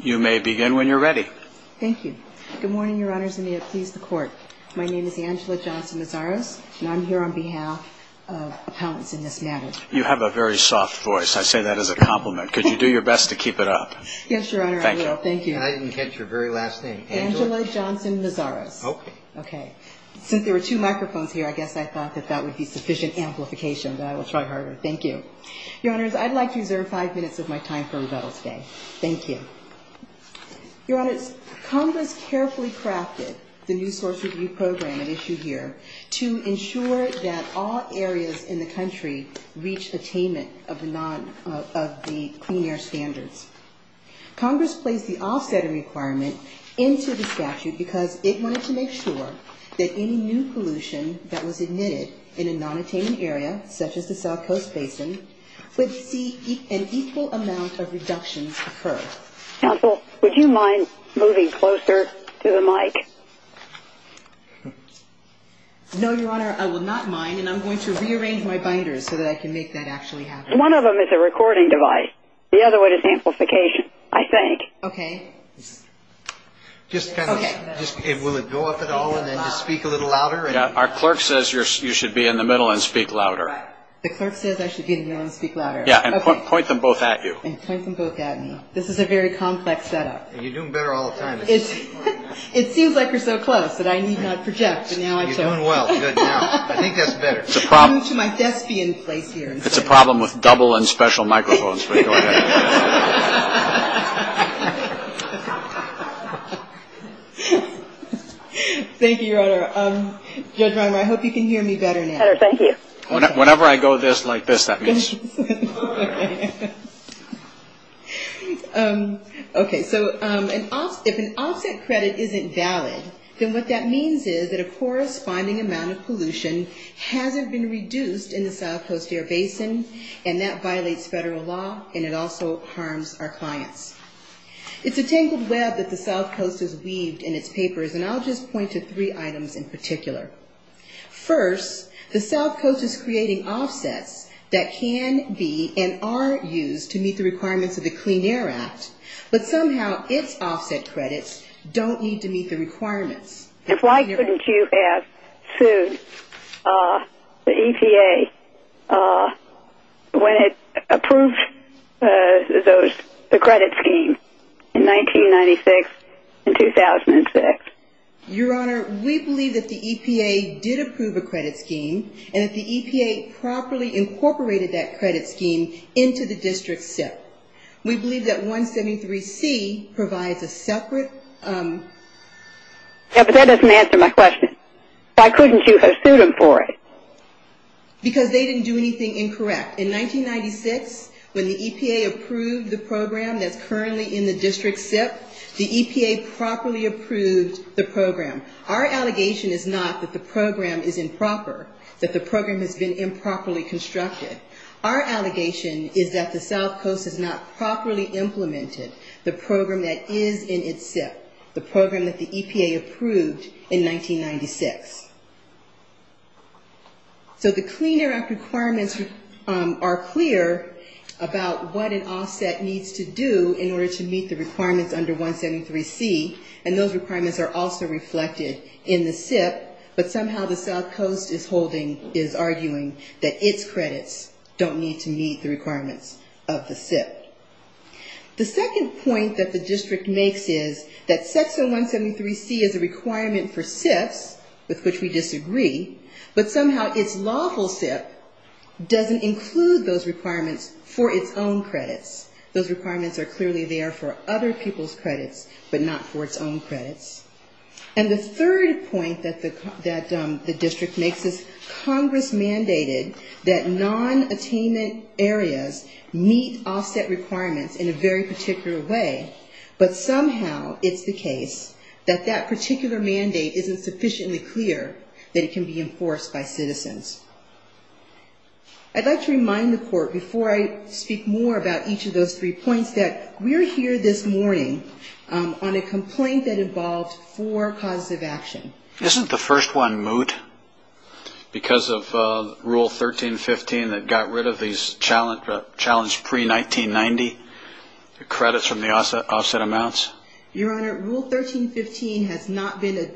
You may begin when you're ready. Thank you. Good morning, Your Honors, and may it please the Court. My name is Angela Johnson-Mazaros, and I'm here on behalf of appellants in this matter. You have a very soft voice. I say that as a compliment. Could you do your best to keep it up? Yes, Your Honor, I will. Thank you. And I didn't catch your very last name. Angela? Angela Johnson-Mazaros. Okay. Okay. Since there were two microphones here, I guess I thought that that would be sufficient amplification, but I will try harder. Thank you. Your Honors, I'd like to reserve five minutes of my time for rebuttals today. Thank you. Your Honors, Congress carefully crafted the new source review program at issue here to ensure that all areas in the country reach attainment of the clean air standards. Congress placed the offsetting requirement into the statute because it wanted to make sure that any new pollution that was emitted in a non-attainment area, such as the South Coast Basin, would see an equal amount of reductions occur. Counsel, would you mind moving closer to the mic? No, Your Honor, I will not mind, and I'm going to rearrange my binders so that I can make that actually happen. One of them is a recording device. The other one is amplification, I think. Okay. Just kind of, will it go up at all and then just speak a little louder? Yeah, our clerk says you should be in the middle and speak louder. The clerk says I should be in the middle and speak louder. Yeah, and point them both at you. And point them both at me. This is a very complex setup. You're doing better all the time. It seems like we're so close that I need not project, but now I don't. You're doing well. Good, now. I think that's better. I'm going to move to my thespian place here. It's a problem with double and special microphones. Thank you, Your Honor. Judge Reimer, I hope you can hear me better now. Better, thank you. Whenever I go this, like this, that means. Okay, so if an offset credit isn't valid, then what that means is that a corresponding amount of pollution hasn't been reduced in the South Coast Air Basin, and that violates federal law, and it also harms our clients. It's a tangled web that the South Coast has weaved in its papers, and I'll just point to three items in particular. First, the South Coast is creating offsets that can be and are used to meet the requirements of the Clean Air Act, but somehow its offset credits don't need to meet the requirements. And why couldn't you have sued the EPA when it approved the credit scheme in 1996 and 2006? Your Honor, we believe that the EPA did approve a credit scheme and that the EPA properly incorporated that credit scheme into the district SIP. We believe that 173C provides a separate. Yeah, but that doesn't answer my question. Why couldn't you have sued them for it? Because they didn't do anything incorrect. In 1996, when the EPA approved the program that's currently in the district SIP, the EPA properly approved the program. Our allegation is not that the program is improper, that the program has been improperly constructed. Our allegation is that the South Coast has not properly implemented the program that is in its SIP, the program that the EPA approved in 1996. So the Clean Air Act requirements are clear about what an offset needs to do in order to meet the requirements under which it was approved. And those requirements are also reflected in the SIP, but somehow the South Coast is arguing that its credits don't need to meet the requirements of the SIP. The second point that the district makes is that Section 173C is a requirement for SIPs, with which we disagree, but somehow its lawful SIP doesn't include those requirements for its own credits. Those requirements are clearly there for other people's credits, but not for its own credits. And the third point that the district makes is Congress mandated that non-attainment areas meet offset requirements in a very particular way, but somehow it's the case that that particular mandate isn't sufficiently clear that it can be enforced by citizens. I'd like to remind the Court, before I speak more about each of those three points, that we're here this morning on a complaint that involved four causes of action. Isn't the first one moot because of Rule 1315 that got rid of these challenged pre-1990 credits from the offset amounts? Your Honor, Rule 1315 has not been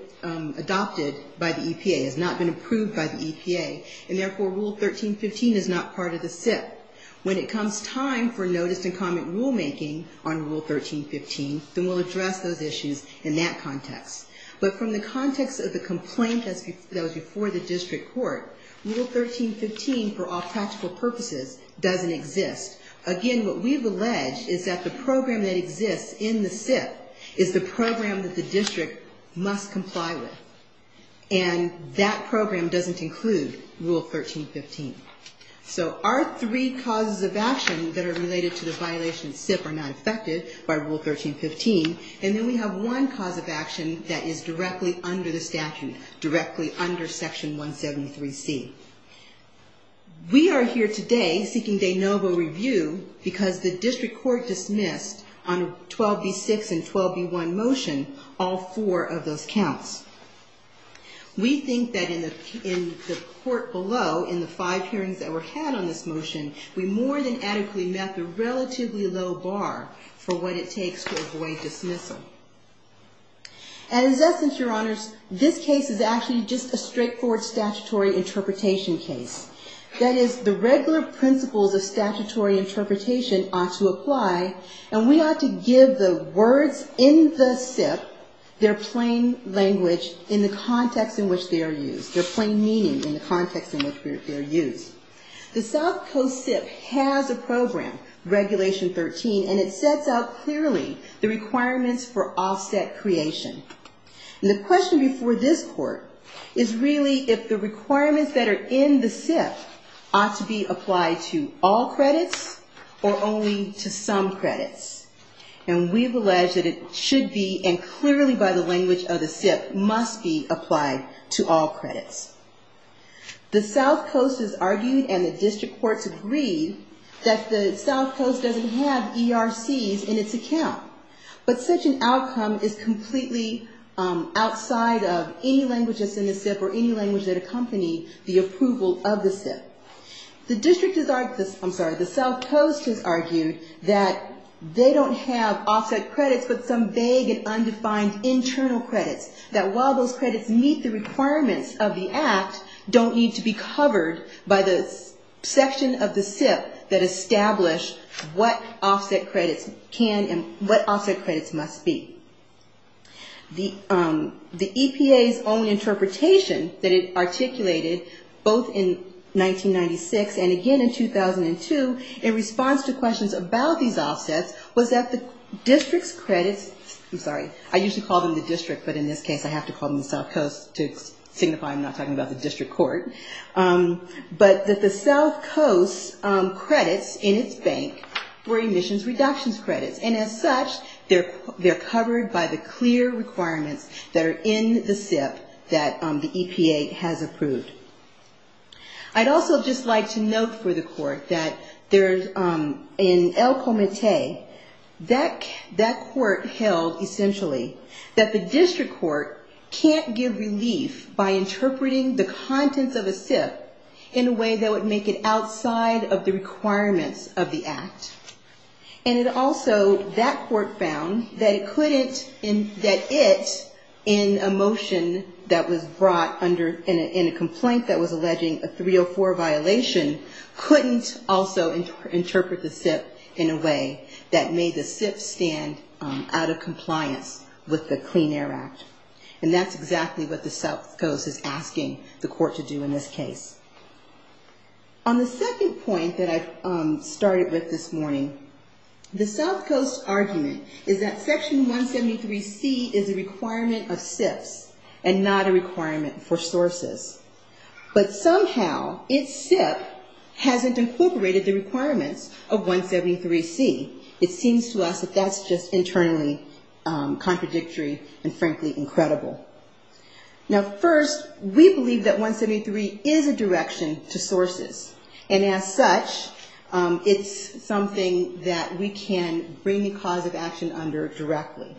adopted by the EPA, has not been approved by the EPA. And therefore, Rule 1315 is not part of the SIP. When it comes time for notice and comment rulemaking on Rule 1315, then we'll address those issues in that context. But from the context of the complaint that was before the district court, Rule 1315, for all practical purposes, doesn't exist. Again, what we've alleged is that the program that exists in the SIP is the program that the district must comply with. And that program doesn't include Rule 1315. So our three causes of action that are related to the violation of SIP are not affected by Rule 1315. And then we have one cause of action that is directly under the statute, directly under Section 173C. We are here today seeking de novo review because the district court dismissed on 12b-6 and 12b-1 motion all four of those counts. We think that in the court below, in the five hearings that were had on this motion, we more than adequately met the relatively low bar for what it takes to avoid dismissal. And in essence, Your Honors, this case is actually just a straightforward statutory interpretation case. That is, the regular principles of statutory interpretation ought to apply, and we ought to give the words in the SIP, their plain language, in the context in which they are used, their plain meaning in the context in which they are used. The South Coast SIP has a program, Regulation 13, and it sets out clearly the requirements for offset creation. And the question before this Court is really if the requirements that are in the SIP ought to be applied to all credits or only to some credits. And we've alleged that it should be, and clearly by the language of the SIP, must be applied to all credits. The South Coast has argued, and the district courts agree, that the South Coast doesn't have ERCs in its account. But such an outcome is completely outside of any language that's in the SIP or any language that accompany the approval of the SIP. The district has argued, I'm sorry, the South Coast has argued that they don't have offset credits but some vague and undefined internal credits. That while those credits meet the requirements of the Act, don't need to be covered by the section of the SIP that establish what offset credits can and what offset credits must be. The EPA's own interpretation that it articulated both in 1996 and again in 2002 in response to questions about these offsets was that the district's credits, I'm sorry, I usually call them the district but in this case I have to call them the South Coast to signify I'm not talking about the district court. But that the South Coast's credits in its bank were emissions reductions credits and as such they're covered by the clear requirements that are in the SIP that the EPA has approved. I'd also just like to note for the court that in El Comité that court held essentially that the district court can't give relief by interpreting the contents of a SIP in a way that would make it outside of the requirements of the Act. And it also, that court found that it couldn't, that it in a motion that was brought in a complaint that was alleging a 304 violation couldn't also interpret the SIP in a way that made the SIP stand out of compliance with the Clean Air Act. And that's exactly what the South Coast is asking the court to do in this case. On the second point that I started with this morning, the South Coast argument is that Section 173C is a requirement of SIPs and not a requirement for sources. But somehow its SIP hasn't incorporated the requirements of 173C. It seems to us that that's just internally contradictory and frankly incredible. Now first, we believe that 173C is a direction to sources. And as such, it's something that we can bring the cause of action under directly.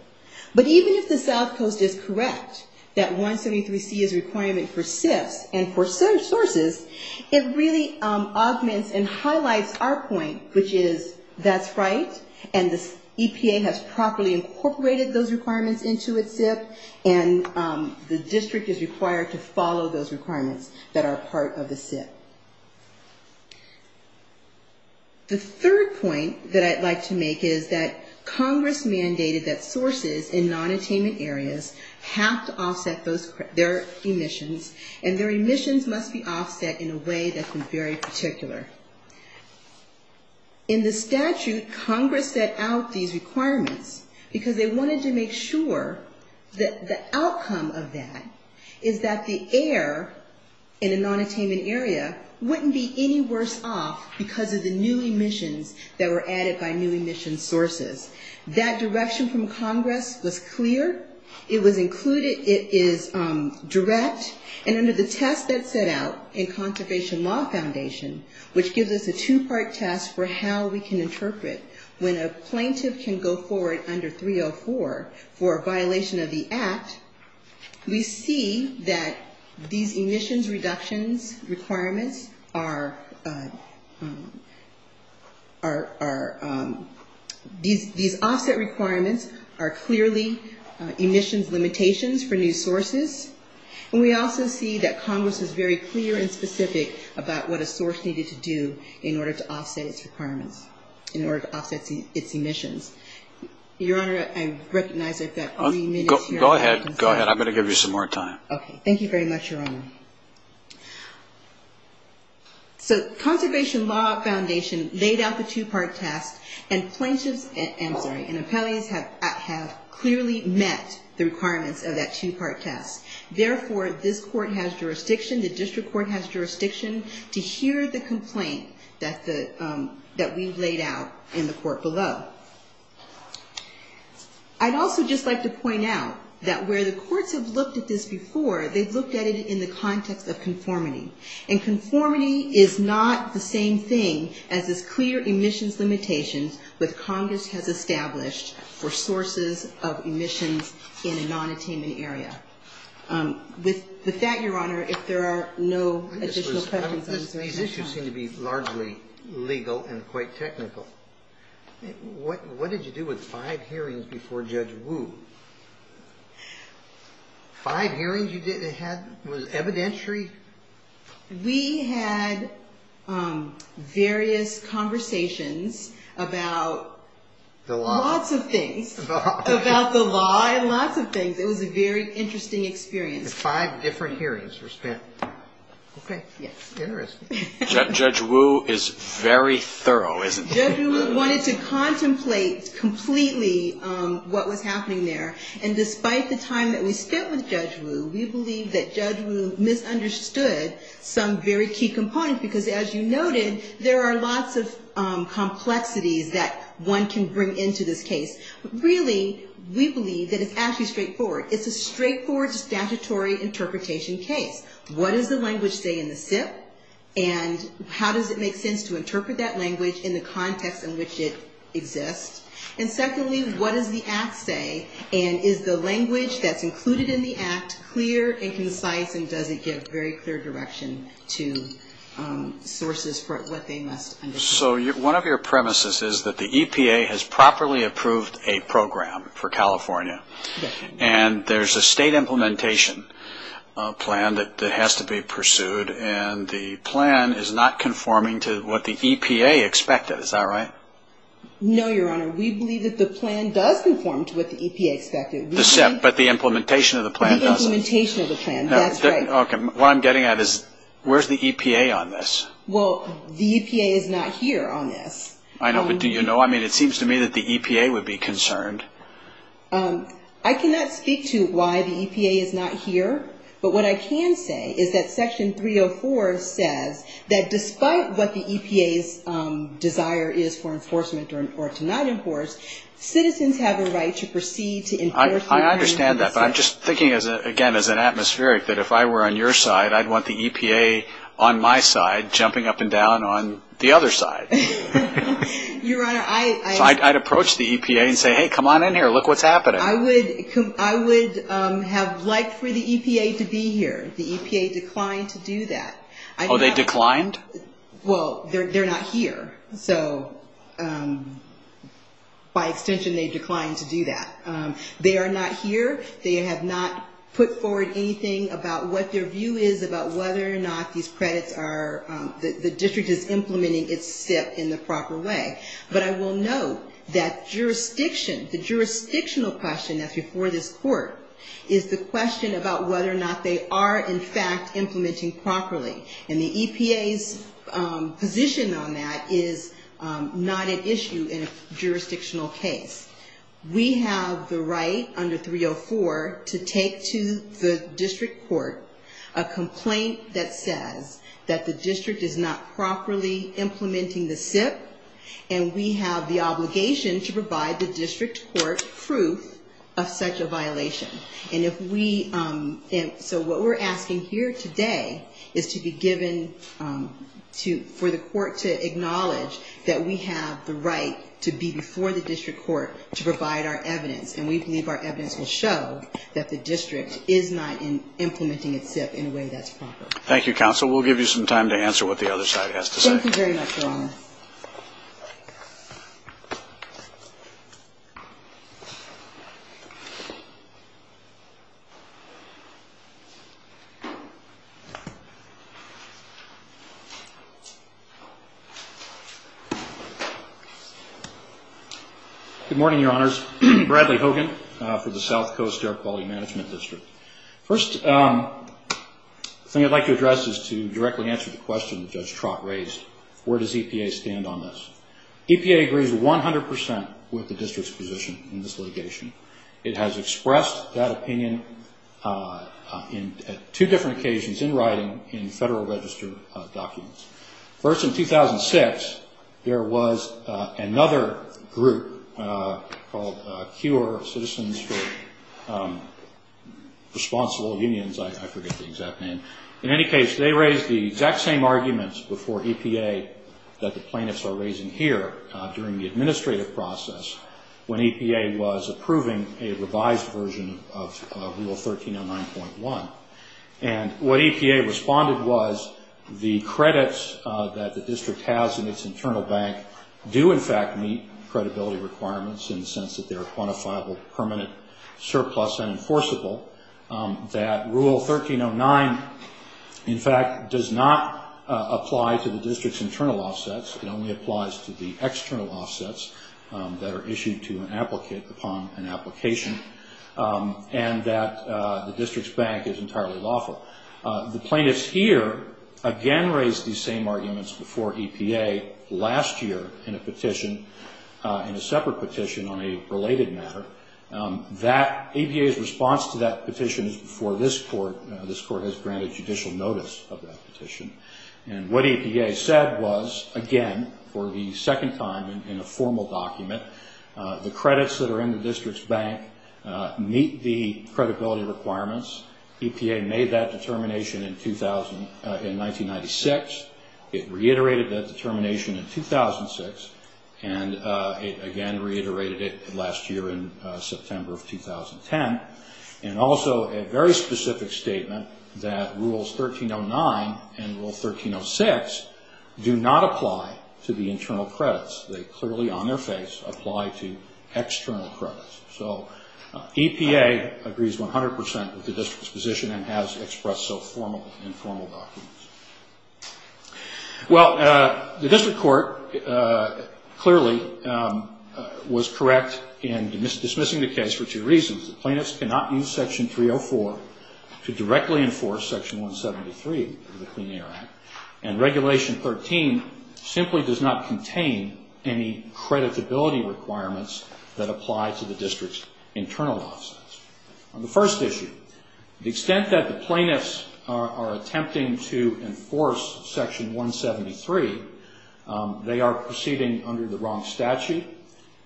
But even if the South Coast is correct that 173C is a requirement for SIPs and for sources, it really augments and highlights our point, which is that's right and the EPA has properly incorporated those requirements into its SIP and the district is required to follow those requirements that are part of the SIP. The third point that I'd like to make is that Congress mandated that sources in nonattainment areas have to offset their emissions and their emissions must be offset in a way that's very particular. In the statute, Congress set out these requirements because they wanted to make sure that the outcome of that is that the air in a nonattainment area wouldn't be any worse off because of the new emissions that were added by new emissions sources. That direction from Congress was clear. It was included. It is direct. And under the test that's set out in Conservation Law Foundation, which gives us a two-part test for how we can interpret when a plaintiff can go forward under 304 for a violation of the Act, we see that these emissions reductions requirements are these offset requirements are clearly emissions limitations for new sources. And we also see that Congress is very clear and specific about what a source needed to do in order to offset its requirements, in order to offset its emissions. Your Honor, I recognize I've got only minutes. Go ahead. I'm going to give you some more time. Okay. Thank you very much, Your Honor. So Conservation Law Foundation laid out the two-part test and plaintiffs, I'm sorry, and appellees have clearly met the requirements of that two-part test. Therefore, this court has jurisdiction, the district court has jurisdiction to hear the complaint that we've laid out in the court below. I'd also just like to point out that where the courts have looked at this before, they've looked at it in the context of conformity. And conformity is not the same thing as this clear emissions limitations that Congress has established for sources of emissions in a non-attainment area. With that, Your Honor, if there are no additional questions, I'm sorry. These issues seem to be largely legal and quite technical. What did you do with five hearings before Judge Wu? Five hearings you had? Was it evidentiary? We had various conversations about lots of things, about the law and lots of things. It was a very interesting experience. Five different hearings were spent. Judge Wu is very thorough, isn't he? Judge Wu wanted to contemplate completely what was happening there. And despite the time that we spent with Judge Wu, we believe that Judge Wu misunderstood some very key components, because as you noted, there are lots of complexities that one can bring into this case. Really, we believe that it's actually what does the language say in the SIP, and how does it make sense to interpret that language in the context in which it exists? And secondly, what does the act say, and is the language that's included in the act clear and concise, and does it give very clear direction to sources for what they must understand? So one of your premises is that the EPA has properly approved a program for California. And there's a state implementation plan that has to be pursued, and the plan is not conforming to what the EPA expected. Is that right? No, Your Honor. We believe that the plan does conform to what the EPA expected. But the implementation of the plan doesn't. What I'm getting at is, where's the EPA on this? Well, the EPA is not here on this. I know, but do you know? I mean, it seems to me that the EPA would be concerned. I cannot speak to why the EPA is not here, but what I can say is that Section 304 says that despite what the EPA's desire is for enforcement or to not enforce, citizens have a right to proceed to enforce. I understand that, but I'm just thinking, again, as an atmospheric, that if I were on your side, I'd want the EPA on my side jumping up and down on the other side. So I'd approach the EPA and say, hey, come on in here. Look what's happening. I would have liked for the EPA to be here. The EPA declined to do that. Oh, they declined? Well, they're not here. So by extension, they declined to do that. They are not here. They have not put forward anything about what their view is about whether or not these credits are, the district is implementing its SIP in the proper way. But I will note that jurisdiction, the jurisdictional question that's before this court, is the question about whether or not they are, in fact, implementing properly. And the EPA's position on that is not an issue in a jurisdictional case. We have the right under 304 to take to the district court a complaint that says that the district is not properly implementing the SIP, and we have the obligation to provide the district court proof of such a violation. And if we, so what we're asking here today is to be given, for the court to acknowledge that we have the right to be before the district court to provide our evidence, and we believe our evidence will show that the district is not implementing its SIP in a way that's proper. Thank you, counsel. We'll give you some time to answer what the other side has to say. Good morning, Your Honors. Bradley Hogan for the South Coast Air Quality Management District. First thing I'd like to address is to directly answer the question that Judge Trott raised. Where does EPA stand on this? EPA agrees 100 percent with the district's position in this litigation. It has expressed that opinion at two different occasions in writing in Federal Register documents. First, in 2006, there was another group called CURE, Citizens for Responsible Unions. I forget the exact name. In any case, they raised the exact same arguments before EPA that the plaintiffs are raising here during the administrative process when EPA was approving a revised version of Rule 1309.1. And what EPA responded was the credits that the district has in its internal bank do in fact meet credibility requirements in the sense that they're a quantifiable permanent surplus and enforceable, that Rule 1309, in fact, does not apply to the district's internal offsets. It only applies to the external offsets that are issued to an applicant upon an application, and that the district's bank is entirely lawful. The plaintiffs here again raised these same arguments before EPA last year in a petition, in a separate petition on a related matter. EPA's response to that petition is before this Court. This Court has granted judicial notice of that petition. And what EPA said was, again, for the second time in a formal document, the credits that are in the district's bank meet the credibility requirements. EPA made that determination in 1996. It reiterated that determination in 2006, and it again reiterated it last year in September of 2010. And also a very specific statement that Rules 1309 and Rule 1306 do not apply to the internal credits. They clearly, on their face, apply to external credits. So EPA agrees 100 percent with the district's position and has expressed so in formal documents. Well, the district court clearly was correct in dismissing the case for two reasons. The plaintiffs cannot use Section 304 to directly enforce Section 173 of the Clean Air Act, and Regulation 13 simply does not contain any creditability requirements that apply to the district's internal offsets. On the first issue, the extent that the plaintiffs are attempting to enforce Section 173, they are proceeding under the wrong statute,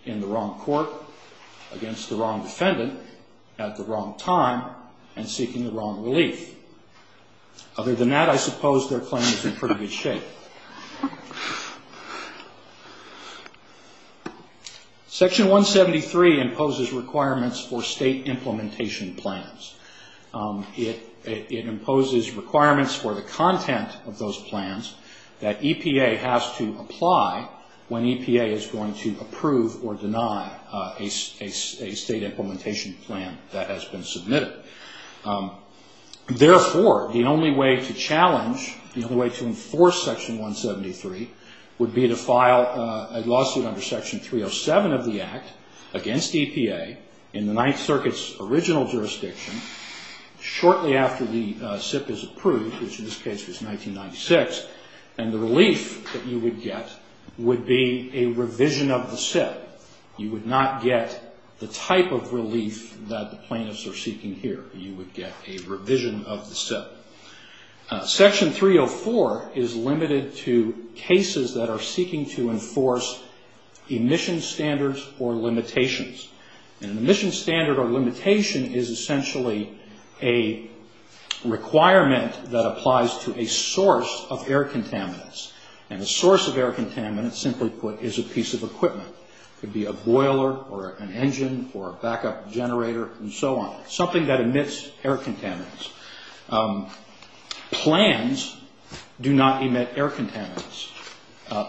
in the wrong court, against the wrong defendant, at the wrong time, and seeking the wrong relief. Other than that, I suppose their claim is in pretty good shape. Section 173 imposes requirements for state implementation plans. It imposes requirements for the content of those plans that EPA has to apply when EPA is going to approve or deny a state implementation plan that has been submitted. Therefore, the only way to challenge, the only way to enforce Section 173 would be to file a lawsuit under Section 307 of the Act against EPA in the Ninth Circuit's original jurisdiction shortly after the SIP is approved, which in this case was 1996, and the relief that you would get would be a revision of the SIP. You would not get the type of relief that the plaintiffs are seeking here. You would get a revision of the SIP. Section 304 is limited to cases that are seeking to enforce emission standards or limitations. And an emission standard or limitation is essentially a requirement that applies to a source of air contaminants. And a source of air contaminants, simply put, is a piece of equipment. It could be a boiler or an engine or a backup generator and so on, something that emits air contaminants. Plans do not emit air contaminants.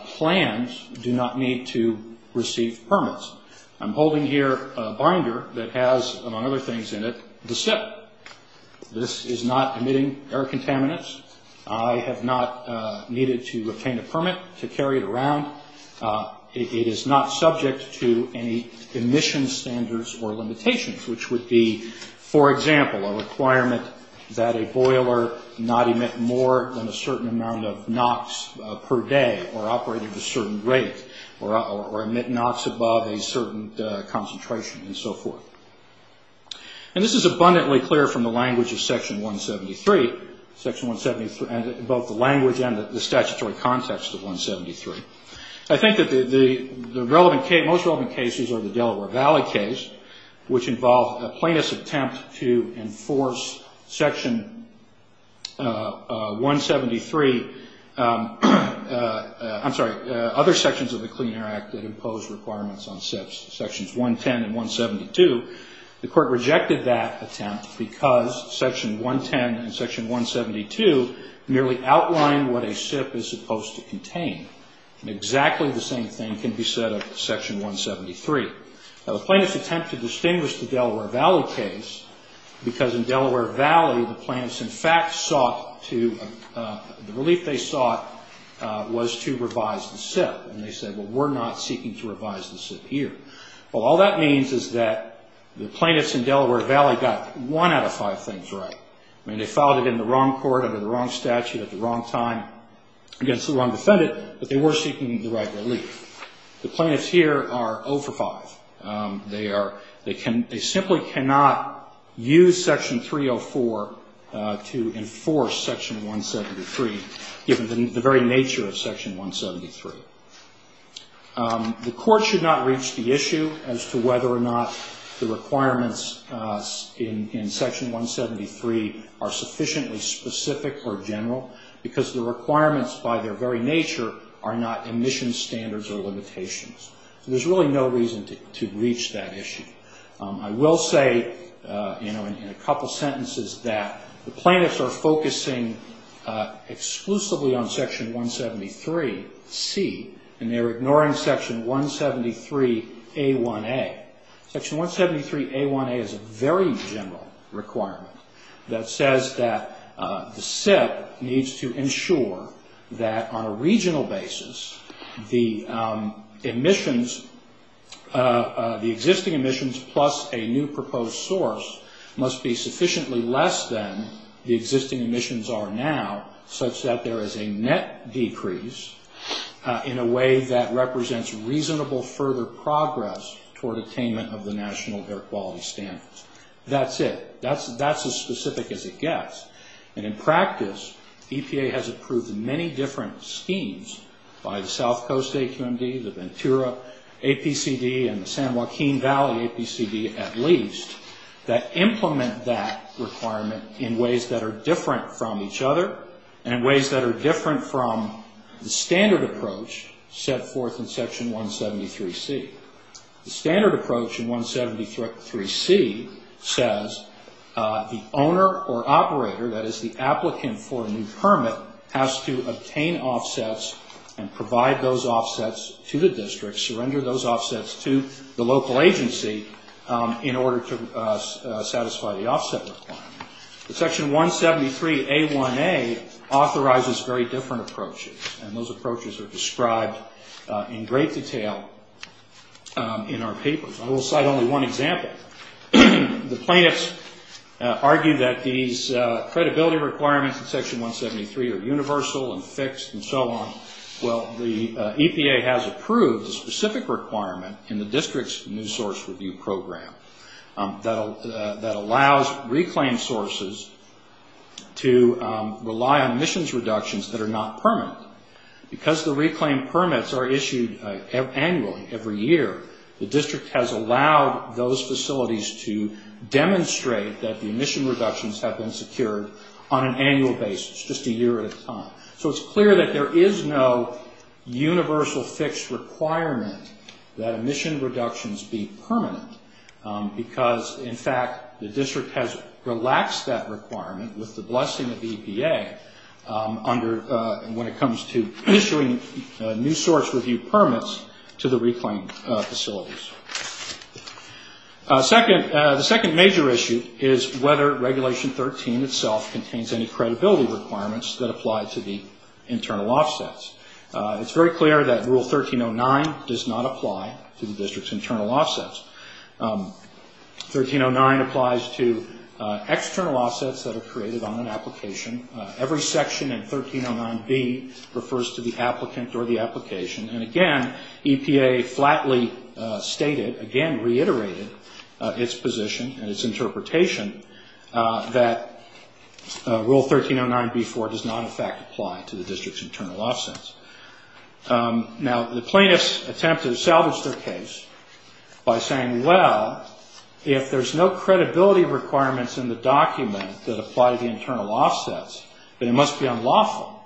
Plans do not need to receive permits. I'm holding here a binder that has, among other things in it, the SIP. This is not emitting air contaminants. I have not needed to obtain a permit to carry it around. It is not subject to any emission standards or limitations, which would be, for example, a requirement that a boiler not emit more than a certain amount of NOx per day or operate at a certain rate or emit NOx above a certain concentration and so forth. And this is abundantly clear from the language of Section 173, both the language and the statutory context of 173. I think that the most relevant cases are the Delaware Valley case, which involved a plaintiff's attempt to enforce Section 173. I'm sorry, other sections of the Clean Air Act that impose requirements on SIPs, Sections 110 and 172. The Court rejected that attempt because Section 110 and Section 172 merely outline what a SIP is supposed to contain. And exactly the same thing can be said of Section 173. Now, the plaintiff's attempt to distinguish the Delaware Valley case because in Delaware Valley, the plaintiffs in fact sought to, the relief they sought was to revise the SIP. And they said, well, we're not seeking to revise the SIP here. Well, all that means is that the plaintiffs in Delaware Valley got one out of five things right. I mean, they filed it in the wrong court under the wrong statute at the wrong time against the wrong defendant, but they were seeking the right relief. The plaintiffs here are 0 for 5. They simply cannot use Section 304 to enforce Section 173, given the very nature of Section 173. The Court should not reach the issue as to whether or not the requirements in Section 173 are sufficiently specific or general, because the requirements by their very nature are not emission standards or limitations. There's really no reason to reach that issue. I will say in a couple sentences that the plaintiffs are focusing exclusively on Section 173C, and they're ignoring Section 173A1A. Section 173A1A is a very general requirement that says that the SIP needs to ensure that on a regional basis the emissions, the existing emissions plus a new proposed source must be sufficiently less than the existing emissions are now, such that there is a net decrease in a way that represents reasonable further progress toward attainment of the national air quality standards. That's it. That's as specific as it gets. In practice, EPA has approved many different schemes by the South Coast AQMD, the Ventura APCD, and the San Joaquin Valley APCD at least, that implement that requirement in ways that are different from each other, and in ways that are different from the standard approach set forth in Section 173C. The standard approach in 173C says the owner or operator, that is the applicant for a new permit, has to obtain offsets and provide those offsets to the district, surrender those offsets to the local agency in order to satisfy the offset requirement. Section 173A1A authorizes very different approaches, and those approaches are described in great detail in our papers. I will cite only one example. The plaintiffs argue that these credibility requirements in Section 173 are universal and fixed and so on. Well, the EPA has approved a specific requirement in the district's new source review program that allows reclaimed sources to rely on emissions reductions that are not permanent. Because the reclaimed permits are issued annually, every year, the district has allowed those facilities to demonstrate that the emission reductions have been secured on an annual basis, just a year at a time. So it's clear that there is no universal fixed requirement that emission reductions be permanent, because, in fact, the district has relaxed that requirement with the blessing of EPA when it comes to issuing new source review permits to the reclaimed facilities. The second major issue is whether Regulation 13 itself contains any credibility requirements that apply to the internal offsets. It's very clear that Rule 1309 does not apply to the district's internal offsets. 1309 applies to external offsets that are created on an application. Every section in 1309b refers to the applicant or the application. And, again, EPA flatly stated, again reiterated its position and its interpretation that Rule 1309b-4 does not, in fact, apply to the district's internal offsets. Now, the plaintiffs attempt to salvage their case by saying, well, if there's no credibility requirements in the document that apply to the internal offsets, then it must be unlawful,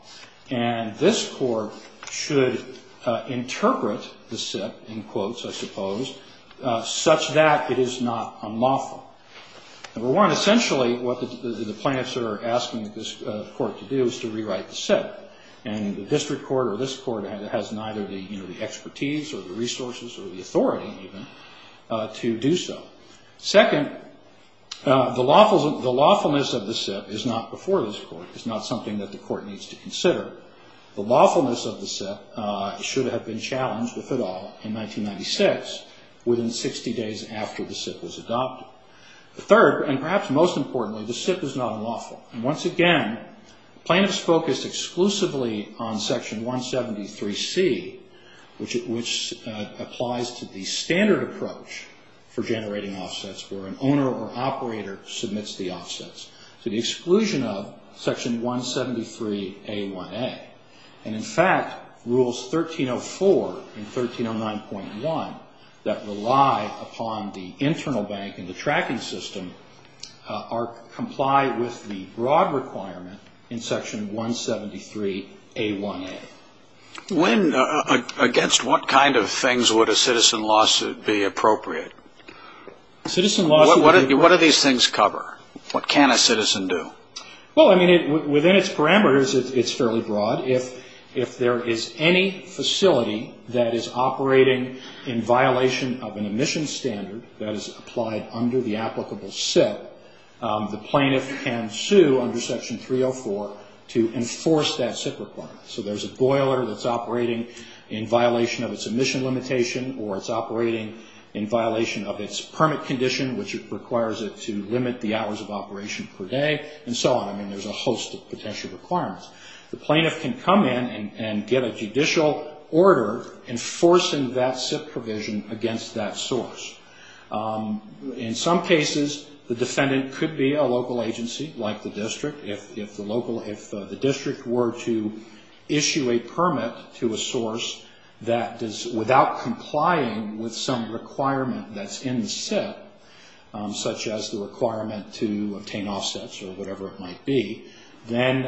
and this Court should interpret the SIP, in quotes, I suppose, such that it is not unlawful. Number one, essentially what the plaintiffs are asking this Court to do is to rewrite the SIP. And the district court or this Court has neither the expertise or the resources or the authority even to do so. Second, the lawfulness of the SIP is not before this Court. It's not something that the Court needs to consider. The lawfulness of the SIP should have been challenged, if at all, in 1996, within 60 days after the SIP was adopted. Third, and perhaps most importantly, the SIP is not unlawful. And, once again, plaintiffs focused exclusively on Section 173C, which applies to the standard approach for generating offsets where an owner or operator submits the offsets, to the exclusion of Section 173A1A. And, in fact, Rules 1304 and 1309.1 that rely upon the internal bank and the tracking system are complied with the broad requirement in Section 173A1A. When, against what kind of things would a citizen lawsuit be appropriate? What do these things cover? What can a citizen do? Well, I mean, within its parameters, it's fairly broad. If there is any facility that is operating in violation of an emission standard that is applied under the applicable SIP, the plaintiff can sue under Section 304 to enforce that SIP requirement. So there's a boiler that's operating in violation of its emission limitation or it's operating in violation of its permit condition, which requires it to limit the hours of operation per day, and so on. I mean, there's a host of potential requirements. The plaintiff can come in and get a judicial order enforcing that SIP provision against that source. In some cases, the defendant could be a local agency, like the district, if the district were to issue a permit to a source that is without complying with some requirement that's in the SIP, such as the requirement to obtain offsets or whatever it might be, then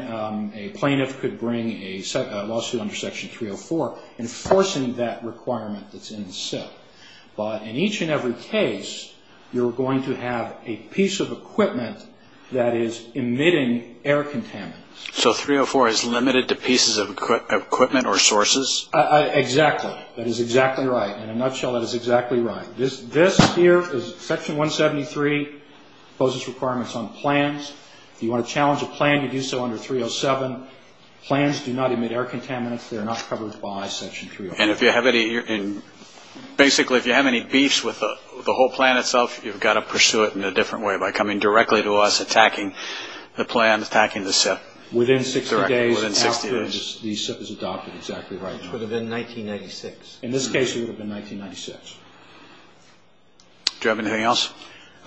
a plaintiff could bring a lawsuit under Section 304 enforcing that requirement that's in the SIP. But in each and every case, you're going to have a piece of equipment that is emitting air contaminants. So 304 is limited to pieces of equipment or sources? Exactly. That is exactly right. In a nutshell, that is exactly right. Section 173 poses requirements on plans. If you want to challenge a plan, you do so under 307. Plans do not emit air contaminants. They're not covered by Section 304. And basically, if you have any beefs with the whole plan itself, you've got to pursue it in a different way by coming directly to us attacking the plan, attacking the SIP. Within 60 days after the SIP is adopted. Exactly right. It would have been 1996. In this case, it would have been 1996. Do you have anything else?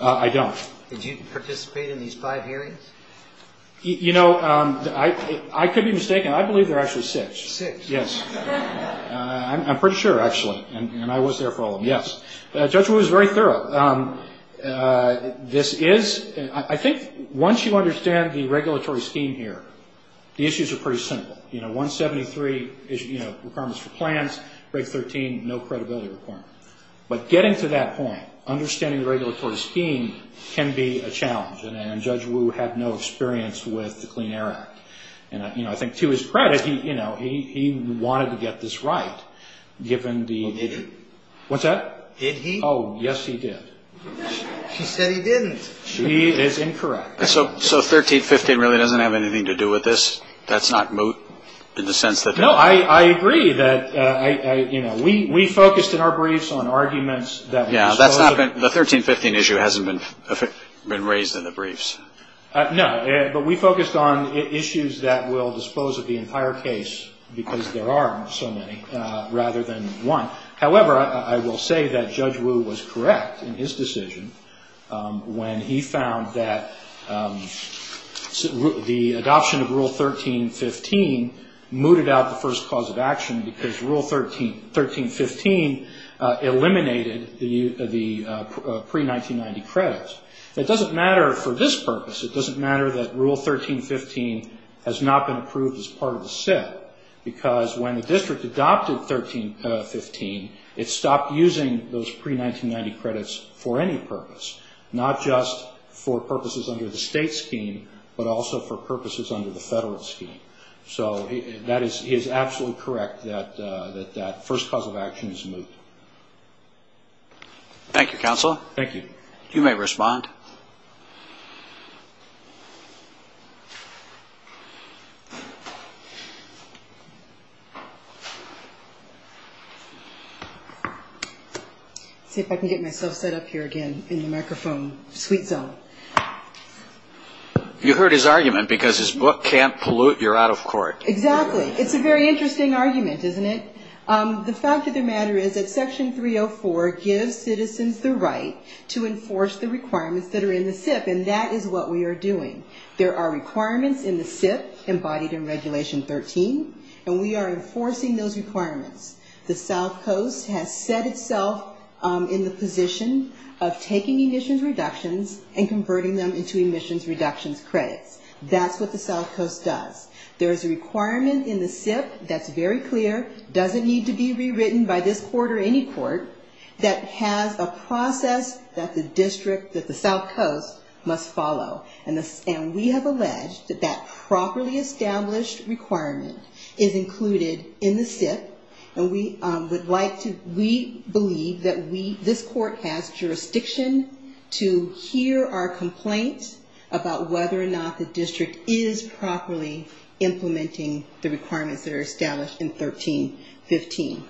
I don't. Did you participate in these five hearings? You know, I could be mistaken. I believe there are actually six. Six? Yes. And I was there for all of them. Yes. Judge Wu is very thorough. This is – I think once you understand the regulatory scheme here, the issues are pretty simple. You know, 173 is, you know, requirements for plans. Break 13, no credibility requirement. But getting to that point, understanding the regulatory scheme can be a challenge. And Judge Wu had no experience with the Clean Air Act. And, you know, I think to his credit, you know, he wanted to get this right given the – Well, did he? What's that? Did he? Oh, yes, he did. He said he didn't. He is incorrect. So 1315 really doesn't have anything to do with this? That's not moot in the sense that – No, I agree that, you know, we focused in our briefs on arguments that – Yeah, that's not – the 1315 issue hasn't been raised in the briefs. No, but we focused on issues that will dispose of the entire case because there are so many rather than one. However, I will say that Judge Wu was correct in his decision when he found that the adoption of Rule 1315 mooted out the first cause of action because Rule 1315 eliminated the pre-1990 credits. It doesn't matter for this purpose. It doesn't matter that Rule 1315 has not been approved as part of the set because when the district adopted 1315, it stopped using those pre-1990 credits for any purpose, not just for purposes under the state scheme but also for purposes under the federal scheme. So he is absolutely correct that that first cause of action is moot. Thank you, counsel. Thank you. You may respond. Let's see if I can get myself set up here again in the microphone sweet zone. You heard his argument because his book can't pollute, you're out of court. Exactly. It's a very interesting argument, isn't it? The fact of the matter is that Section 304 gives citizens the right to enforce the requirements that are in the SIP, and that is what we are doing. There are requirements in the SIP embodied in Regulation 13, and we are enforcing those requirements. The South Coast has set itself in the position of taking emissions reductions and converting them into emissions reductions credits. That's what the South Coast does. There is a requirement in the SIP that's very clear, doesn't need to be rewritten by this court or any court, that has a process that the district, that the South Coast must follow. And we have alleged that that properly established requirement is included in the SIP, and we believe that this court has jurisdiction to hear our complaint about whether or not the district is properly implementing the requirements that are established in 1315.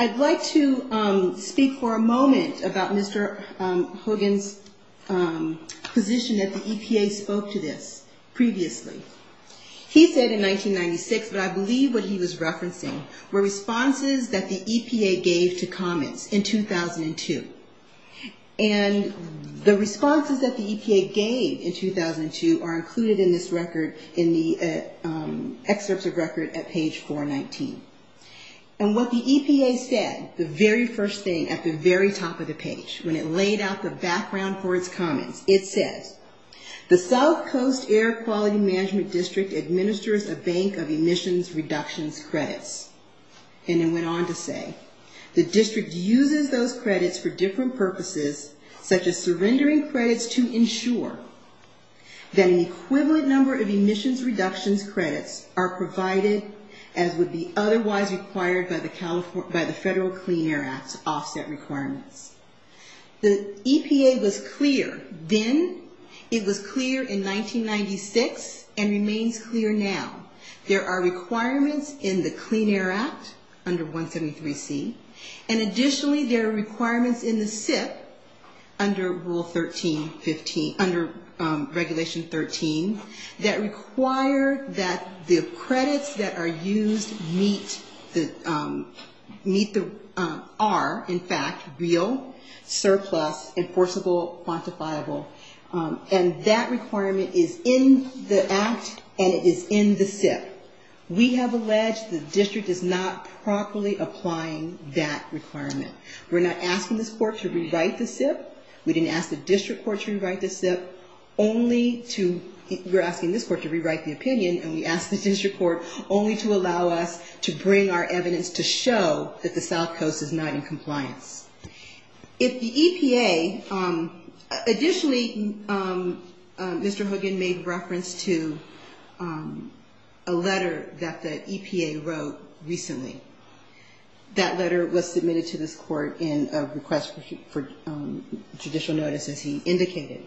I'd like to speak for a moment about Mr. Hogan's position that the EPA spoke to this previously. He said in 1996, but I believe what he was referencing, were responses that the EPA gave to comments in 2002. And the responses that the EPA gave in 2002 are included in this record, in the excerpts of record at page 419. And what the EPA said, the very first thing at the very top of the page, when it laid out the background for its comments, it says, the South Coast Air Quality Management District administers a bank of emissions reductions credits. And it went on to say, the district uses those credits for different purposes, such as surrendering credits to ensure that an equivalent number of emissions reductions credits are provided as would be otherwise required by the Federal Clean Air Act's offset requirements. The EPA was clear then. It was clear in 1996 and remains clear now. There are requirements in the Clean Air Act under 173C, and additionally there are requirements in the SIP under Rule 1315, under Regulation 13, that require that the credits that are used meet the, are in fact real, surplus, enforceable, quantifiable. And that requirement is in the act and it is in the SIP. We have alleged the district is not properly applying that requirement. We're not asking this court to rewrite the SIP. We didn't ask the district court to rewrite the SIP, only to, we're asking this court to rewrite the opinion, and we asked the district court only to allow us to bring our evidence to show that the South Coast is not in compliance. If the EPA, additionally, Mr. Hogan made reference to a letter that the EPA wrote recently. That letter was submitted to this court in a request for judicial notice, as he indicated.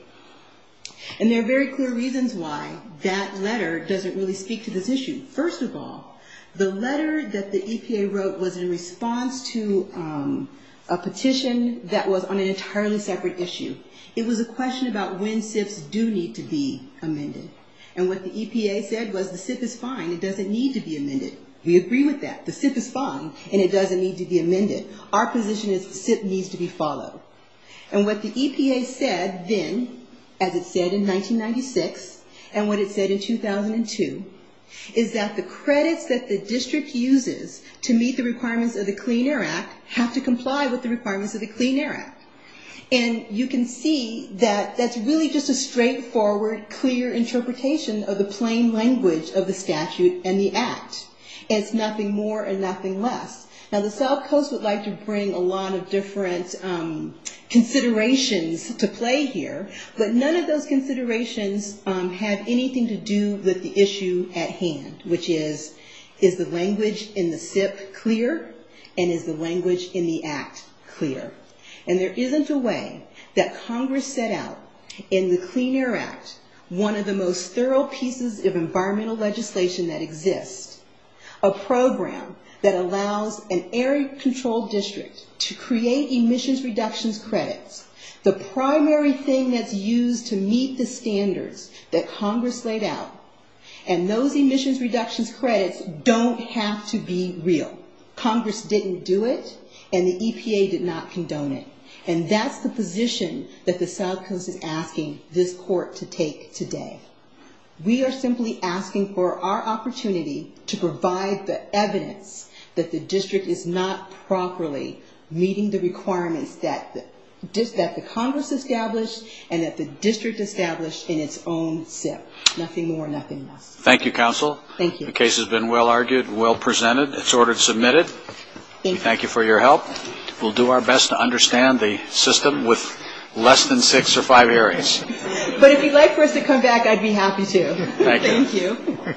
And there are very clear reasons why that letter doesn't really speak to this issue. First of all, the letter that the EPA wrote was in response to a petition that was on an entirely separate issue. It was a question about when SIPs do need to be amended. And what the EPA said was the SIP is fine. It doesn't need to be amended. We agree with that. The SIP is fine, and it doesn't need to be amended. Our position is the SIP needs to be followed. And what the EPA said then, as it said in 1996, and what it said in 2002, is that the credits that the district uses to meet the requirements of the Clean Air Act have to comply with the requirements of the Clean Air Act. And you can see that that's really just a straightforward, clear interpretation of the plain language of the statute and the act. It's nothing more and nothing less. Now the South Coast would like to bring a lot of different considerations to play here, but none of those considerations have anything to do with the issue at hand, which is, is the language in the SIP clear? And is the language in the act clear? And there isn't a way that Congress set out in the Clean Air Act, one of the most thorough pieces of environmental legislation that exists, a program that allows an air-controlled district to create emissions reductions credits, the primary thing that's used to meet the standards that Congress laid out, and those emissions reductions credits don't have to be real. Congress didn't do it, and the EPA did not condone it. And that's the position that the South Coast is asking this court to take today. We are simply asking for our opportunity to provide the evidence that the district is not properly meeting the requirements that the Congress established and that the district established in its own SIP. Nothing more, nothing less. Thank you, Counsel. Thank you. The case has been well argued, well presented. It's ordered submitted. Thank you. We thank you for your help. We'll do our best to understand the system with less than six or five areas. But if you'd like for us to come back, I'd be happy to. Thank you.